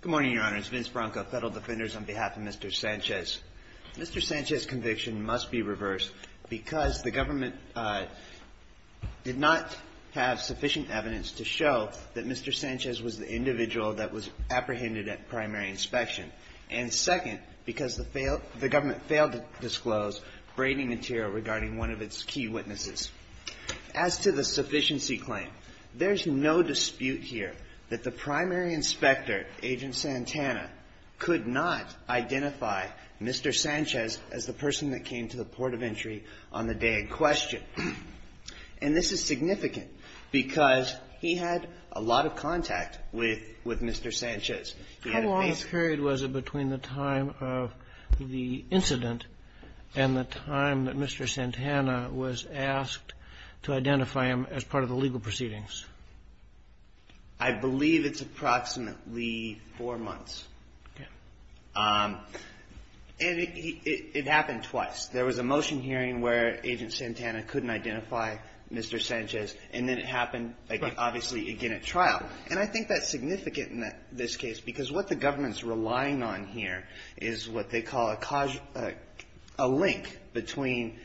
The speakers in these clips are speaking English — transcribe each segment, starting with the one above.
Good morning, Your Honors. Vince Branco, Federal Defenders, on behalf of Mr. Sanchez. Mr. Sanchez's conviction must be reversed because the government did not have sufficient evidence to show that Mr. Sanchez was the individual that was apprehended at primary inspection, and second, because the government failed to disclose braiding material regarding one of its key witnesses. As to the sufficiency claim, there's no dispute here that the primary inspector, Agent Santana, could not identify Mr. Sanchez as the person that came to the port of entry on the day in question, and this is significant because he had a lot of contact with Mr. Sanchez. How long a period was it between the time of the incident and the time that Mr. Santana was asked to identify him as part of the legal proceedings? I believe it's approximately four months. Okay. And it happened twice. There was a motion hearing where Agent Santana couldn't identify Mr. Sanchez, and then it happened, obviously, again at trial. And I think that's significant in this case because what the government's relying on here is what they call a link between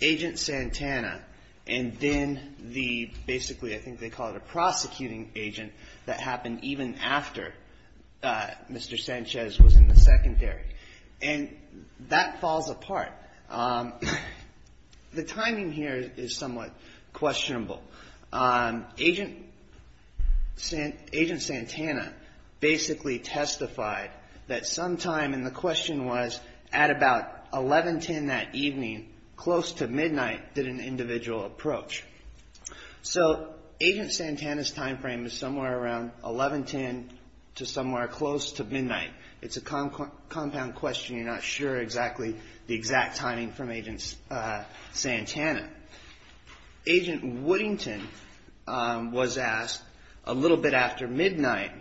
Agent Santana and then the, basically, I think they call it a prosecuting agent that happened even after Mr. Sanchez was in the secondary. And that falls apart. The timing here is somewhat questionable. Agent Santana basically testified that sometime, and the question was at about 11.10 that evening, close to midnight, did an individual approach. So Agent Santana's timeframe is somewhere around 11.10 to somewhere close to midnight. It's a compound question. You're not sure exactly the exact timing from Agent Santana. Agent Woodington was asked, a little bit after midnight,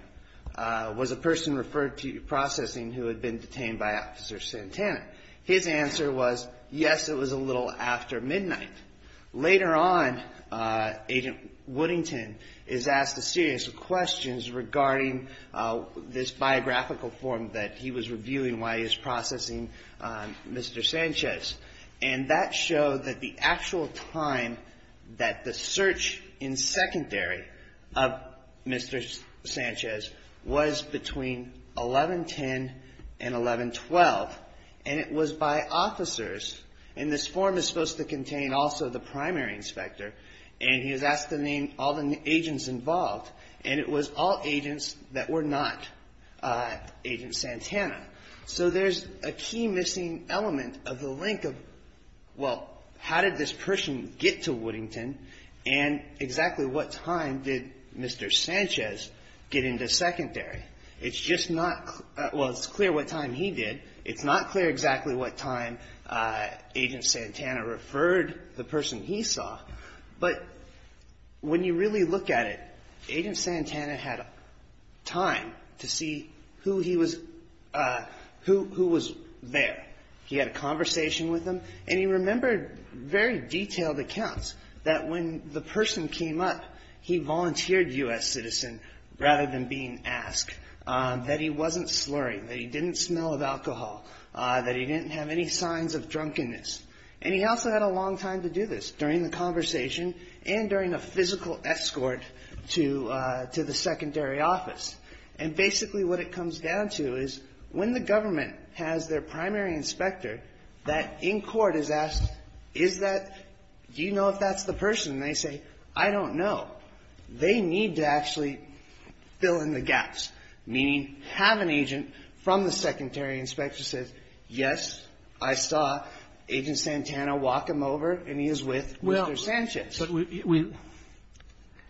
was a person referred to processing who had been detained by Officer Santana? His answer was, yes, it was a little after midnight. Later on, Agent Woodington is asked a series of questions regarding this biographical form that he was reviewing while he was processing Mr. Sanchez. And that showed that the actual time that the search in secondary of Mr. Sanchez was between 11.10 and 11.12. And it was by officers. And this form is supposed to contain also the primary inspector. And he was asked to name all the agents involved. And it was all agents that were not Agent Santana. So there's a key missing element of the link of, well, how did this person get to Woodington? And exactly what time did Mr. Sanchez get into secondary? It's just not, well, it's clear what time he did. It's not clear exactly what time Agent Santana referred the person he saw. But when you really look at it, Agent Santana had time to see who he was, who was there. He had a conversation with him. And he remembered very detailed accounts that when the person came up, he volunteered U.S. citizen rather than being asked, that he wasn't slurring, that he didn't smell of alcohol, that he didn't have any signs of drunkenness. And he also had a long time to do this during the conversation and during a physical escort to the secondary office. And basically what it comes down to is when the government has their primary inspector, that in court is asked, is that, do you know if that's the person? And they say, I don't know. They need to actually fill in the gaps. Meaning have an agent from the secondary inspector say, yes, I saw Agent Santana walk him over and he is with Mr. Sanchez.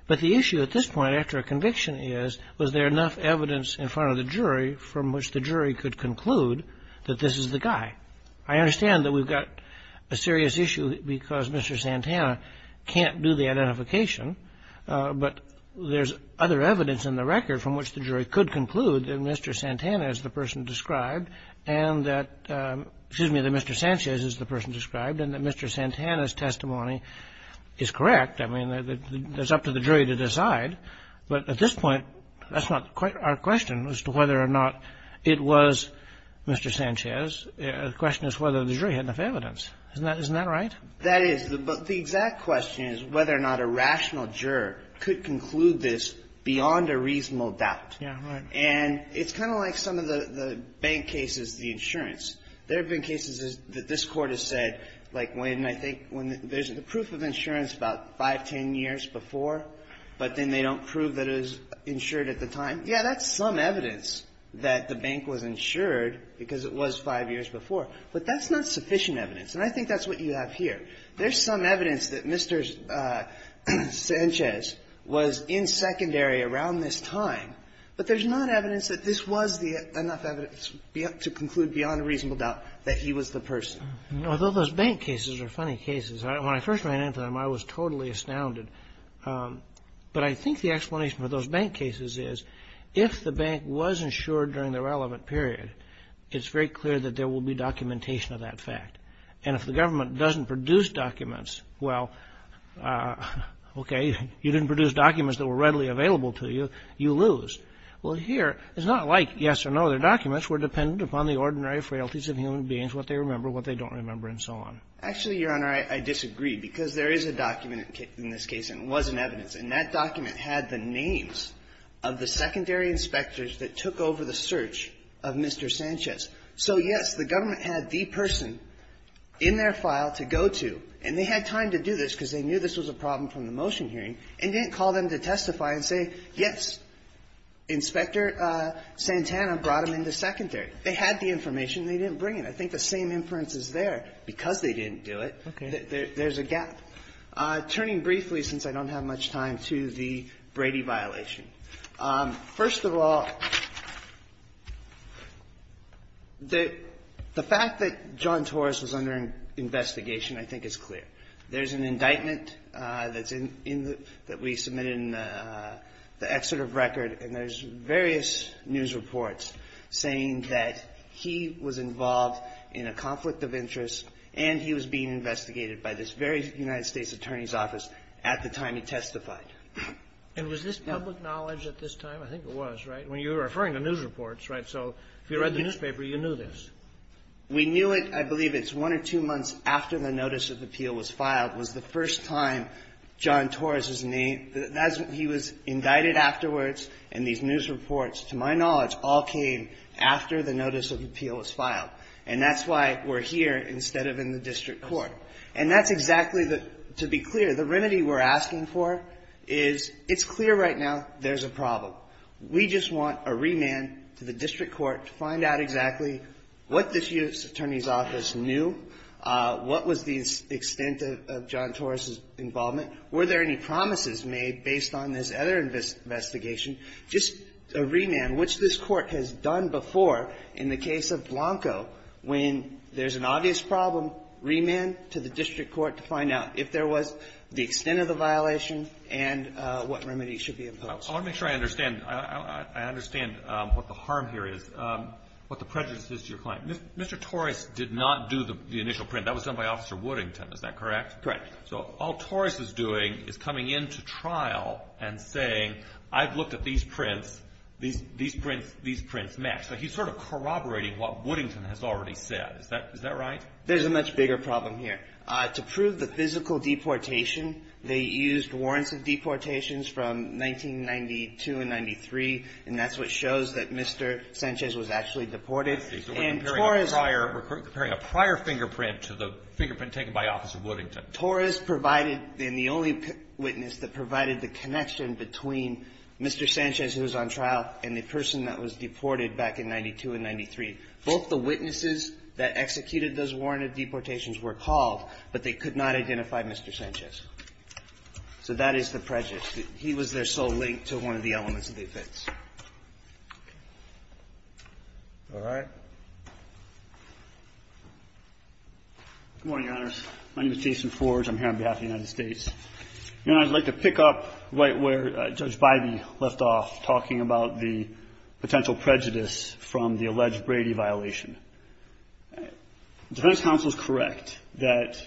But the issue at this point after a conviction is, was there enough evidence in front of the jury from which the jury could conclude that this is the guy? I understand that we've got a serious issue because Mr. Santana can't do the identification. But there's other evidence in the record from which the jury could conclude that Mr. Santana is the person described and that, excuse me, that Mr. Sanchez is the person described and that Mr. Santana's testimony is correct. I mean, it's up to the jury to decide. But at this point, that's not quite our question as to whether or not it was Mr. Sanchez. The question is whether the jury had enough evidence. Isn't that right? That is. But the exact question is whether or not a rational juror could conclude this beyond a reasonable doubt. Yeah, right. And it's kind of like some of the bank cases, the insurance. There have been cases that this court has said, like when I think when there's a proof of insurance about five, ten years before, but then they don't prove that it was insured at the time. Yeah, that's some evidence that the bank was insured because it was five years before. But that's not sufficient evidence. And I think that's what you have here. There's some evidence that Mr. Sanchez was in secondary around this time. But there's not evidence that this was the enough evidence to conclude beyond a reasonable doubt that he was the person. Although those bank cases are funny cases. When I first ran into them, I was totally astounded. But I think the explanation for those bank cases is if the bank was insured during the relevant period, it's very clear that there will be documentation of that fact. And if the government doesn't produce documents, well, okay, you didn't produce documents that were readily available to you, you lose. Well, here, it's not like yes or no. Their documents were dependent upon the ordinary frailties of human beings, what they remember, what they don't remember, and so on. Actually, Your Honor, I disagree because there is a document in this case, and it was in evidence. And that document had the names of the secondary inspectors that took over the search of Mr. Sanchez. So, yes, the government had the person in their file to go to, and they had time to do this because they knew this was a problem from the motion hearing, and didn't call them to testify and say, yes, Inspector Santana brought him into secondary. They had the information. They didn't bring it. I think the same inference is there. Because they didn't do it, there's a gap. All right. Turning briefly, since I don't have much time, to the Brady violation. First of all, the fact that John Torres was under investigation, I think, is clear. There's an indictment that we submitted in the Excerpt of Record, and there's various news reports saying that he was involved in a conflict of interest, and he was being at the time he testified. And was this public knowledge at this time? I think it was, right? When you were referring to news reports, right? So if you read the newspaper, you knew this. We knew it, I believe it's one or two months after the notice of appeal was filed, was the first time John Torres was named. He was indicted afterwards, and these news reports, to my knowledge, all came after the notice of appeal was filed. And that's why we're here instead of in the district court. And that's exactly the, to be clear, the remedy we're asking for is it's clear right now there's a problem. We just want a remand to the district court to find out exactly what this U.S. Attorney's Office knew, what was the extent of John Torres' involvement, were there any promises made based on this other investigation. Just a remand, which this court has done before in the case of Blanco, when there's an obvious problem, remand to the district court to find out if there was the extent of the violation and what remedy should be imposed. I want to make sure I understand. I understand what the harm here is, what the prejudice is to your client. Mr. Torres did not do the initial print. That was done by Officer Woodington. Is that correct? Correct. So all Torres is doing is coming into trial and saying, I've looked at these prints. These prints match. So he's sort of corroborating what Woodington has already said. Is that right? There's a much bigger problem here. To prove the physical deportation, they used warrants of deportations from 1992 and 1993, and that's what shows that Mr. Sanchez was actually deported. So we're comparing a prior fingerprint to the fingerprint taken by Officer Woodington. Torres provided, and the only witness that provided the connection between Mr. Sanchez, who was on trial, and the person that was deported back in 1992 and 1993. Both the witnesses that executed those warranted deportations were called, but they could not identify Mr. Sanchez. So that is the prejudice. He was their sole link to one of the elements of the offense. All right. Good morning, Your Honors. My name is Jason Forge. I'm here on behalf of the United States. Your Honor, I'd like to pick up right where Judge Bybee left off, talking about the alleged Brady violation. Defense counsel is correct that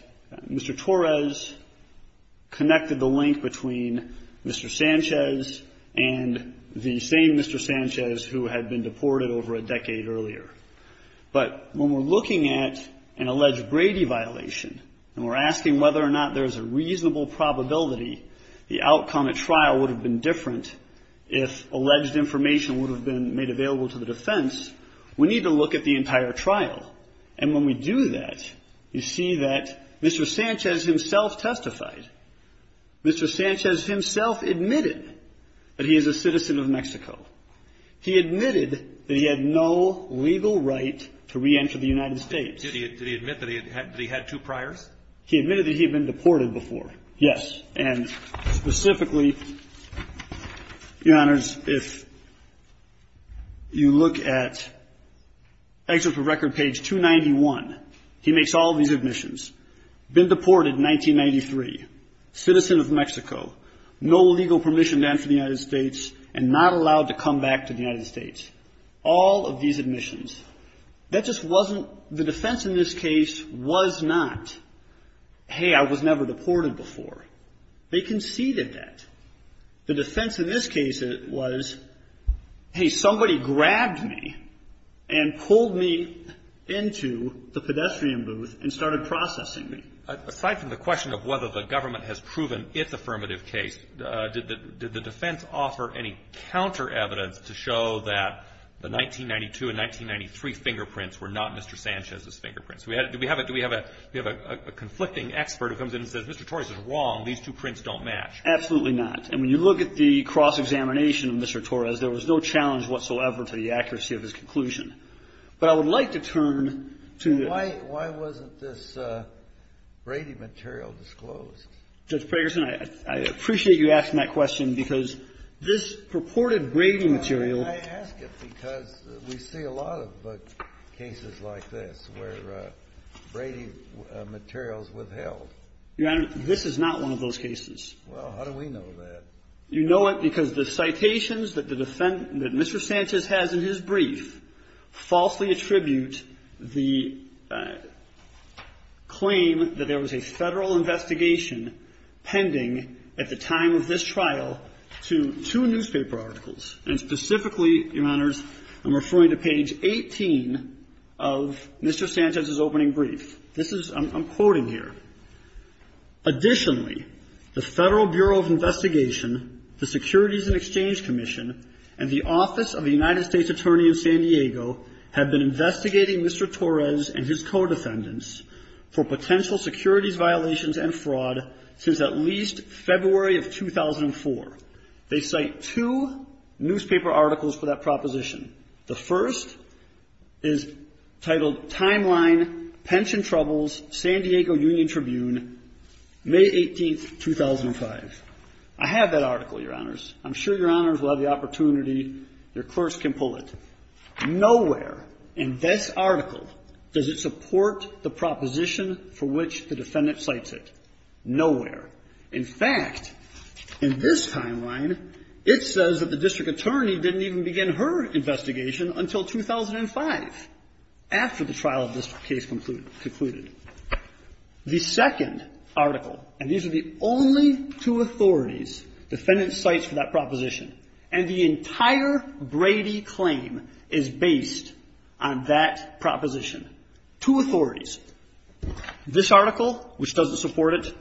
Mr. Torres connected the link between Mr. Sanchez and the same Mr. Sanchez who had been deported over a decade earlier. But when we're looking at an alleged Brady violation and we're asking whether or not there's a reasonable probability the outcome at trial would have been different if alleged information would have been made available to the defense, we need to look at the entire trial. And when we do that, you see that Mr. Sanchez himself testified. Mr. Sanchez himself admitted that he is a citizen of Mexico. He admitted that he had no legal right to reenter the United States. Did he admit that he had two priors? He admitted that he had been deported before, yes. And specifically, Your Honors, if you look at excerpt from record page 291, he makes all these admissions. Been deported in 1993. Citizen of Mexico. No legal permission to enter the United States and not allowed to come back to the United States. All of these admissions. That just wasn't the defense in this case was not, hey, I was never deported before. They conceded that. The defense in this case was, hey, somebody grabbed me and pulled me into the pedestrian booth and started processing me. Aside from the question of whether the government has proven its affirmative case, did the defense offer any counter evidence to show that the 1992 and 1993 fingerprints were not Mr. Sanchez's fingerprints? Do we have a conflicting expert who comes in and says, Mr. Torres is wrong. These two prints don't match. Absolutely not. And when you look at the cross-examination of Mr. Torres, there was no challenge whatsoever to the accuracy of his conclusion. But I would like to turn to the other. Why wasn't this Brady material disclosed? Judge Ferguson, I appreciate you asking that question because this purported Brady material. I ask it because we see a lot of cases like this where Brady materials withheld. Your Honor, this is not one of those cases. Well, how do we know that? You know it because the citations that Mr. Sanchez has in his brief falsely attribute the claim that there was a Federal investigation pending at the time of this trial to two newspaper articles and specifically, Your Honors, I'm referring to page 18 of Mr. Sanchez's opening brief. This is, I'm quoting here. Additionally, the Federal Bureau of Investigation, the Securities and Exchange Commission and the Office of the United States Attorney of San Diego have been investigating Mr. Torres and his co-defendants for potential securities violations and fraud since at least February of 2004. They cite two newspaper articles for that proposition. The first is titled Timeline, Pension Troubles, San Diego Union Tribune, May 18, 2005. I have that article, Your Honors. I'm sure Your Honors will have the opportunity, your clerks can pull it. Nowhere in this article does it support the proposition for which the defendant cites it. Nowhere. In fact, in this timeline, it says that the district attorney didn't even begin her investigation until 2005 after the trial of this case concluded. The second article, and these are the only two authorities, defendants cite for that proposition and the entire Brady claim is based on that proposition. Two authorities. This article, which doesn't support it,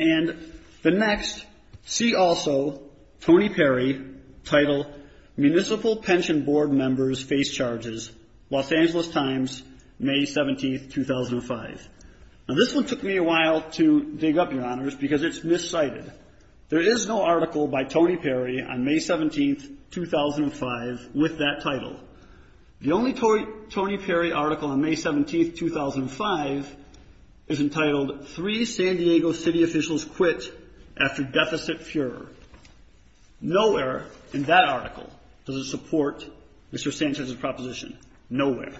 and the next, see also, Tony Perry, titled Municipal Pension Board Members Face Charges, Los Angeles Times, May 17, 2005. Now this one took me a while to dig up, Your Honors, because it's miscited. There is no article by Tony Perry on May 17, 2005, with that title. The only Tony Perry article on May 17, 2005 is entitled Three San Diego City Officials Quit After Deficit Fuhrer. Nowhere in that article does it support Mr. Sanchez's proposition. Nowhere.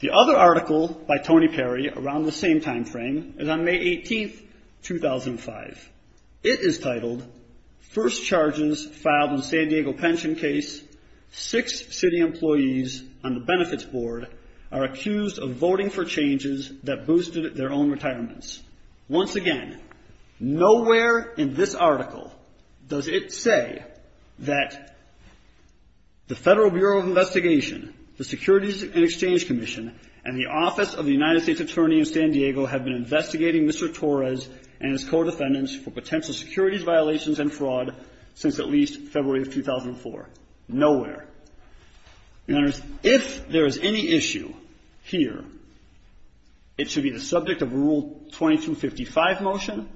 The other article by Tony Perry around the same timeframe is on May 18, 2005. It is titled First Charges Filed in San Diego Pension Case, Six City Employees on the Benefits Board are Accused of Voting for Changes that Boosted Their Own Retirements. Once again, nowhere in this article does it say that the Federal Bureau of Investigation, the Securities and Exchange Commission, and the Office of the United States Attorney in San Diego have been investigating Mr. Torres and his co-defendants for potential securities violations and fraud since at least February of 2004. Nowhere. Your Honors, if there is any issue here, it should be the subject of Rule 2255 motion.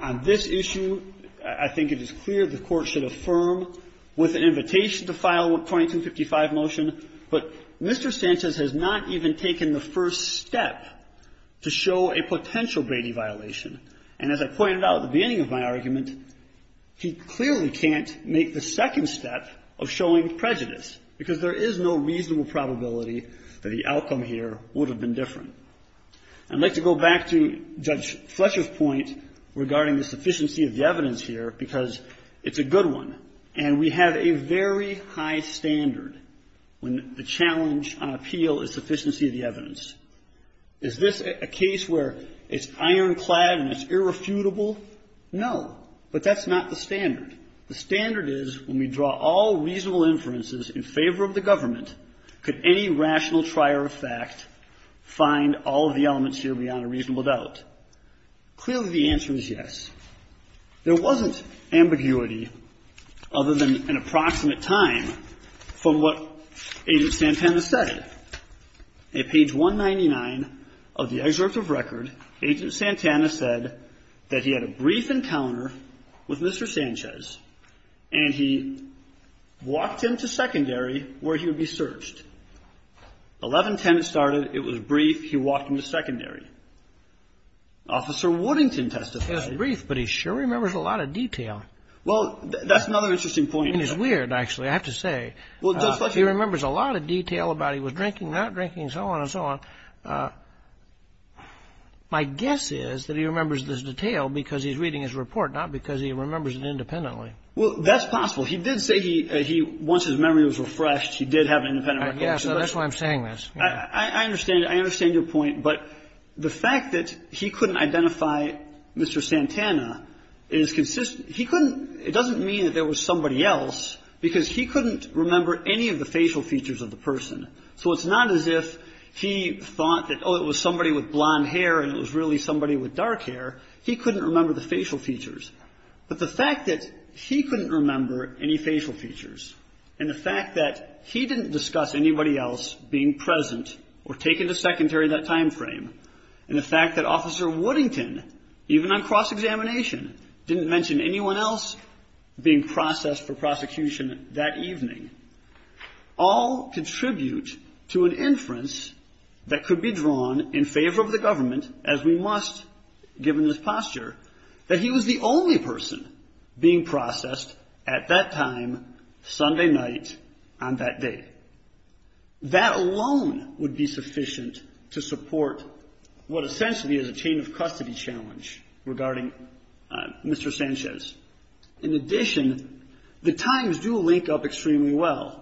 On this issue, I think it is clear the Court should affirm with an invitation to file Rule 2255 motion. But Mr. Sanchez has not even taken the first step to show a potential Brady violation. And as I pointed out at the beginning of my argument, he clearly can't make the second step of showing prejudice, because there is no reasonable probability that the outcome here would have been different. I'd like to go back to Judge Fletcher's point regarding the sufficiency of the evidence here, because it's a good one. And we have a very high standard when the challenge on appeal is sufficiency of the evidence. Is this a case where it's ironclad and it's irrefutable? No. But that's not the standard. The standard is when we draw all reasonable inferences in favor of the government, could any rational trier of fact find all of the elements here beyond a reasonable doubt? Clearly, the answer is yes. There wasn't ambiguity other than an approximate time from what Agent Santana said. On page 199 of the excerpt of record, Agent Santana said that he had a brief encounter with Mr. Sanchez, and he walked him to secondary where he would be searched. 1110 it started. It was brief. He walked him to secondary. Officer Woodington testified. It was brief, but he sure remembers a lot of detail. Well, that's another interesting point. It's weird, actually, I have to say. He remembers a lot of detail about he was drinking, not drinking, so on and so on. My guess is that he remembers this detail because he's reading his report, not because he remembers it independently. Well, that's possible. He did say he once his memory was refreshed, he did have an independent. I understand. I understand your point. But the fact that he couldn't identify Mr. Santana is consistent. He couldn't. It doesn't mean that there was somebody else, because he couldn't remember any of the facial features of the person. So it's not as if he thought that, oh, it was somebody with blonde hair and it was really somebody with dark hair. He couldn't remember the facial features. But the fact that he couldn't remember any facial features and the fact that he didn't discuss anybody else being present or taken to secondary that time frame, and the fact that Officer Woodington, even on cross-examination, didn't mention anyone else being processed for prosecution that evening, all contribute to an inference that could be drawn in favor of the government, as we must, given his posture, that he was the only person being processed at that time, Sunday night, on that day. That alone would be sufficient to support what essentially is a chain of custody challenge regarding Mr. Sanchez. In addition, the times do link up extremely well.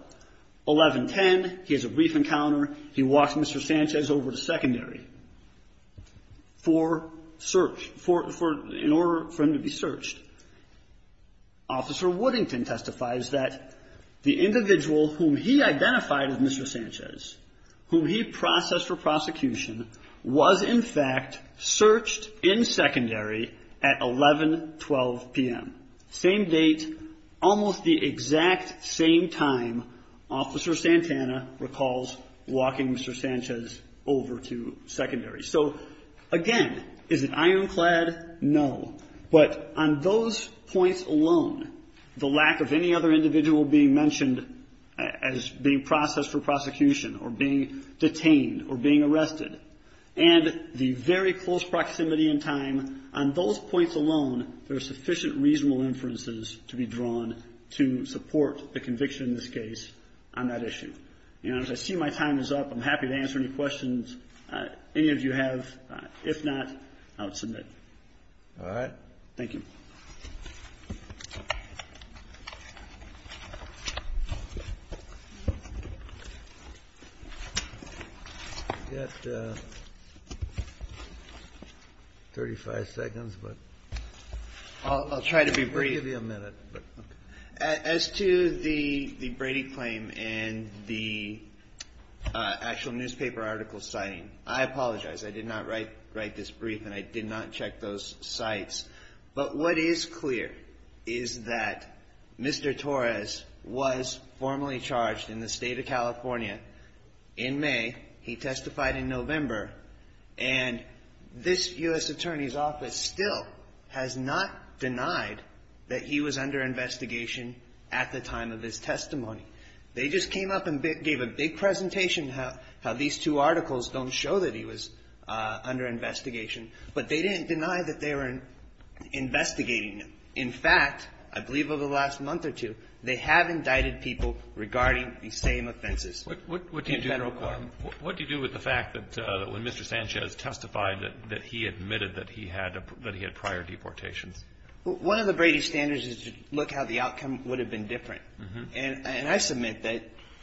11-10, he has a brief encounter. He walks Mr. Sanchez over to secondary. For search, in order for him to be searched. Officer Woodington testifies that the individual whom he identified as Mr. Sanchez, whom he processed for prosecution, was in fact searched in secondary at 11-12 p.m. Same date, almost the exact same time Officer Santana recalls walking Mr. Sanchez over to secondary. So again, is it ironclad? No. But on those points alone, the lack of any other individual being mentioned as being processed for prosecution or being detained or being arrested, and the very close proximity in time, on those points alone, there are sufficient reasonable inferences to be drawn to support the conviction in this case on that issue. In other words, I see my time is up. I'm happy to answer any questions any of you have. If not, I'll submit. All right. Thank you. We've got 35 seconds, but I'll give you a minute. As to the Brady claim and the actual newspaper article citing, I apologize. I did not write this brief, and I did not check those sites. But what is clear is that Mr. Torres was formally charged in the state of California in May. He testified in November, and this U.S. Department of Justice said that he was under investigation at the time of his testimony. They just came up and gave a big presentation how these two articles don't show that he was under investigation. But they didn't deny that they were investigating him. In fact, I believe over the last month or two, they have indicted people regarding the same offenses in Federal court. What do you do with the fact that when Mr. Sanchez testified that he admitted that he had prior deportations? One of the Brady standards is to look how the outcome would have been different. And I submit that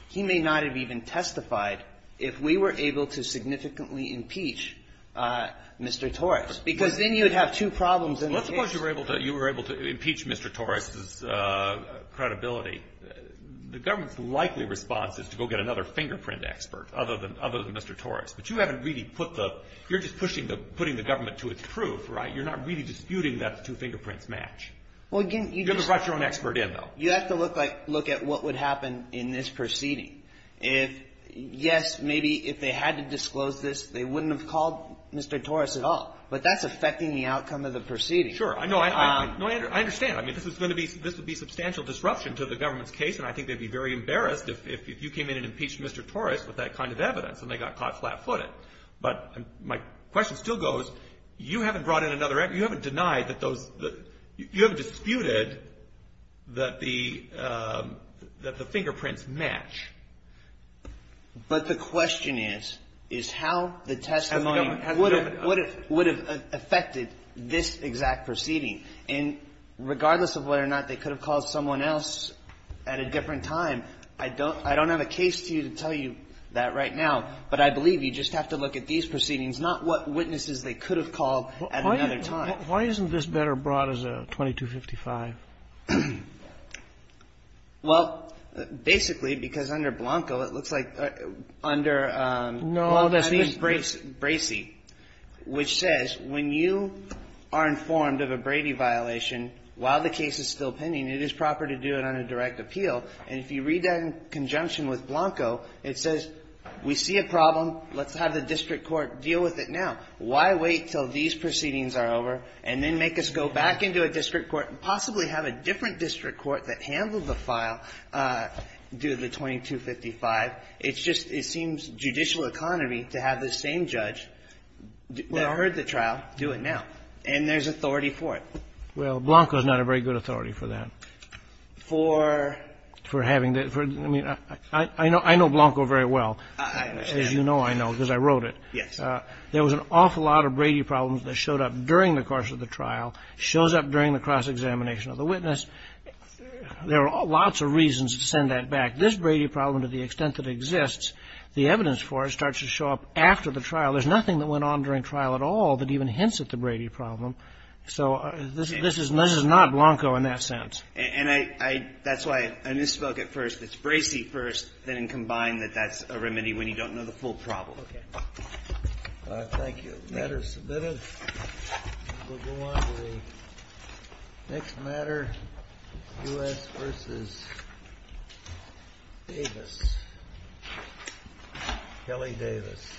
he may not have even testified if we were able to significantly impeach Mr. Torres, because then you would have two problems in the case. Let's suppose you were able to impeach Mr. Torres' credibility. The government's likely response is to go get another fingerprint expert, other than Mr. Torres. But you haven't really put the you're just pushing the putting the government to its proof, right? You're not really disputing that the two fingerprints match. You have to write your own expert in, though. You have to look at what would happen in this proceeding. Yes, maybe if they had to disclose this, they wouldn't have called Mr. Torres at all. But that's affecting the outcome of the proceeding. Sure. I understand. I mean, this would be substantial disruption to the government's case, and I think they'd be very embarrassed if you came in and you haven't denied that those you have disputed that the that the fingerprints match. But the question is, is how the testimony would have would have affected this exact proceeding. And regardless of whether or not they could have called someone else at a different time. I don't I don't have a case to tell you that right now, but I believe you just have to look at these proceedings, not what witnesses they could have called at another time. Why isn't this better brought as a 2255? Well, basically, because under Blanco, it looks like under. No, that's Bracey. Bracey, which says when you are informed of a Brady violation while the case is still pending, it is proper to do it on a direct appeal. And if you read that in conjunction with Blanco, it says we see a problem. Let's have the district court deal with it now. Why wait till these proceedings are over and then make us go back into a district court and possibly have a different district court that handled the file due to the 2255? It's just it seems judicial economy to have the same judge that heard the trial do it now. And there's authority for it. Well, Blanco is not a very good authority for that. For? For having that. I mean, I know I know Blanco very well. As you know, I know because I wrote it. Yes. There was an awful lot of Brady problems that showed up during the course of the trial, shows up during the cross-examination of the witness. There are lots of reasons to send that back. This Brady problem, to the extent that exists, the evidence for it starts to show up after the trial. There's nothing that went on during trial at all that even hints at the Brady problem. So this is this is not Blanco in that sense. And I that's why I misspoke at first. It's Bracey first. Then combine that that's a remedy when you don't know the full problem. Thank you. The matter is submitted. We'll go on to the next matter. U.S. versus Davis. Kelly Davis.